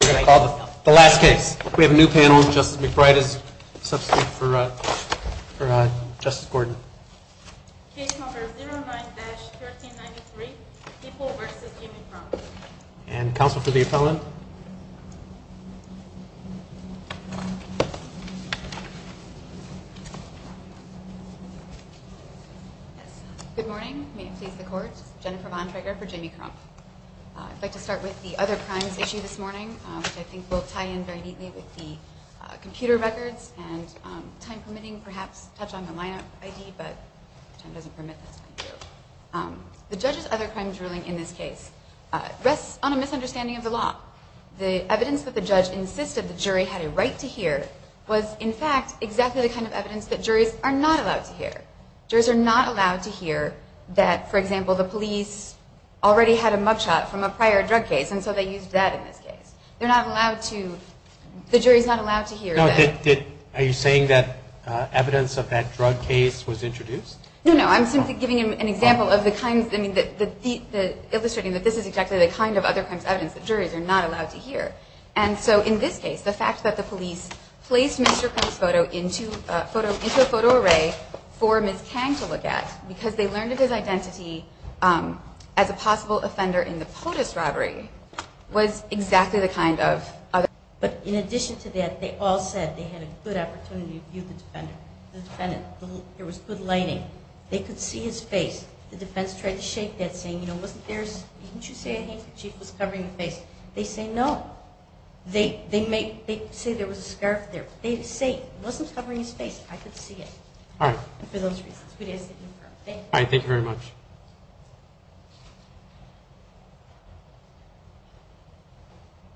The last case. We have a new panel. Justice McBride is substitute for Justice Gordon. Case number 09-1393, People v. Jimmy Crump. And counsel for the appellant. Good morning. May it please the court. Jennifer Von Traeger for Jimmy Crump. I'd like to start with the other crimes issue this morning, which I think will tie in very neatly with the computer records. And time permitting, perhaps touch on the lineup ID, but if time doesn't permit, that's fine too. The judge's other crimes ruling in this case rests on a misunderstanding of the law. The evidence that the judge insisted the jury had a right to hear was, in fact, exactly the kind of evidence that juries are not allowed to hear. Juries are not allowed to hear that, for example, the police already had a mugshot from a prior drug case, and so they used that in this case. They're not allowed to, the jury's not allowed to hear that. Are you saying that evidence of that drug case was introduced? No, no. I'm simply giving an example of the kinds, I mean, illustrating that this is exactly the kind of other crimes evidence that juries are not allowed to hear. And so in this case, the fact that the police placed Mr. Crump's photo into a photo array for Ms. Kang to look at, because they learned of his identity as a possible offender in the POTUS robbery, was exactly the kind of other evidence that juries are not allowed to hear. But in addition to that, they all said they had a good opportunity to view the defendant. There was good lighting. They could see his face. The defense tried to shake that, saying, you know, wasn't there, didn't you say I think the chief was covering his face? They say no. They say there was a scarf there. They say he wasn't covering his face. I could see it. All right. For those reasons. All right, thank you very much.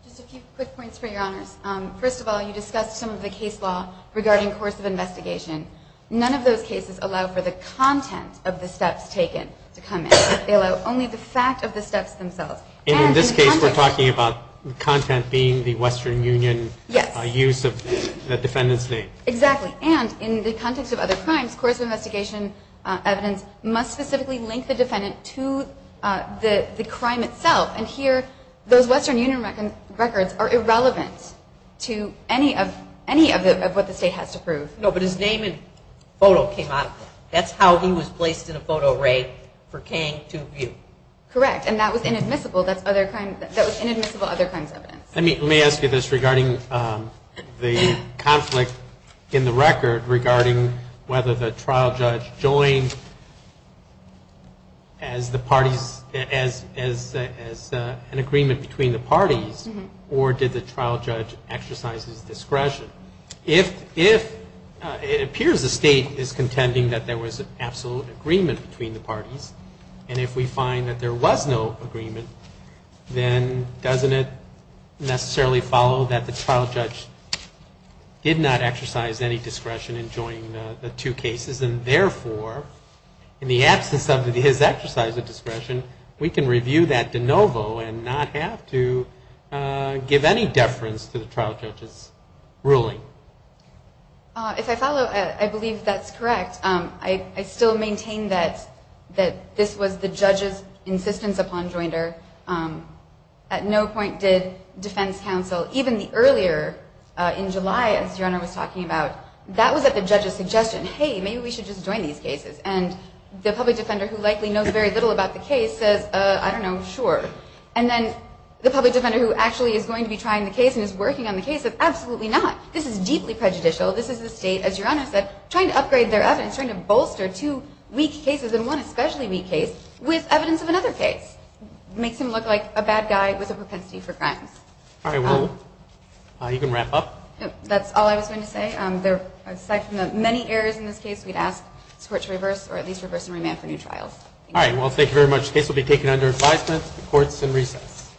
Just a few quick points for your honors. First of all, you discussed some of the case law regarding course of investigation. None of those cases allow for the content of the steps taken to come in. They allow only the fact of the steps themselves. In this case, we're talking about content being the Western Union use of the defendant's name. Exactly. And in the context of other crimes, course of investigation evidence must specifically link the defendant to the crime itself. And here, those Western Union records are irrelevant to any of what the state has to prove. No, but his name and photo came out. That's how he was placed in a photo array for Kang to view. Correct. And that was inadmissible. That was inadmissible other crimes evidence. Let me ask you this regarding the conflict in the record regarding whether the trial judge joined as an agreement between the parties or did the trial judge exercise his discretion. If it appears the state is contending that there was an absolute agreement between the parties and if we find that there was no agreement, then doesn't it necessarily follow that the trial judge did not exercise any discretion in joining the two cases and, therefore, in the absence of his exercise of discretion, we can review that de novo and not have to give any deference to the trial judge's ruling? If I follow, I believe that's correct. I still maintain that this was the judge's insistence upon joinder. At no point did defense counsel, even the earlier in July, as Your Honor was talking about, that was at the judge's suggestion. Hey, maybe we should just join these cases. And the public defender who likely knows very little about the case says, I don't know, sure. And then the public defender who actually is going to be trying the case and is working on the case says, absolutely not. This is deeply prejudicial. This is the state, as Your Honor said, trying to upgrade their evidence, trying to bolster two weak cases and one especially weak case with evidence of another case. It makes him look like a bad guy with a propensity for crimes. All right, well, you can wrap up. That's all I was going to say. Aside from the many errors in this case, we'd ask this Court to reverse or at least reverse and remand for new trials. All right, well, thank you very much. The case will be taken under advisement. The Court is in recess.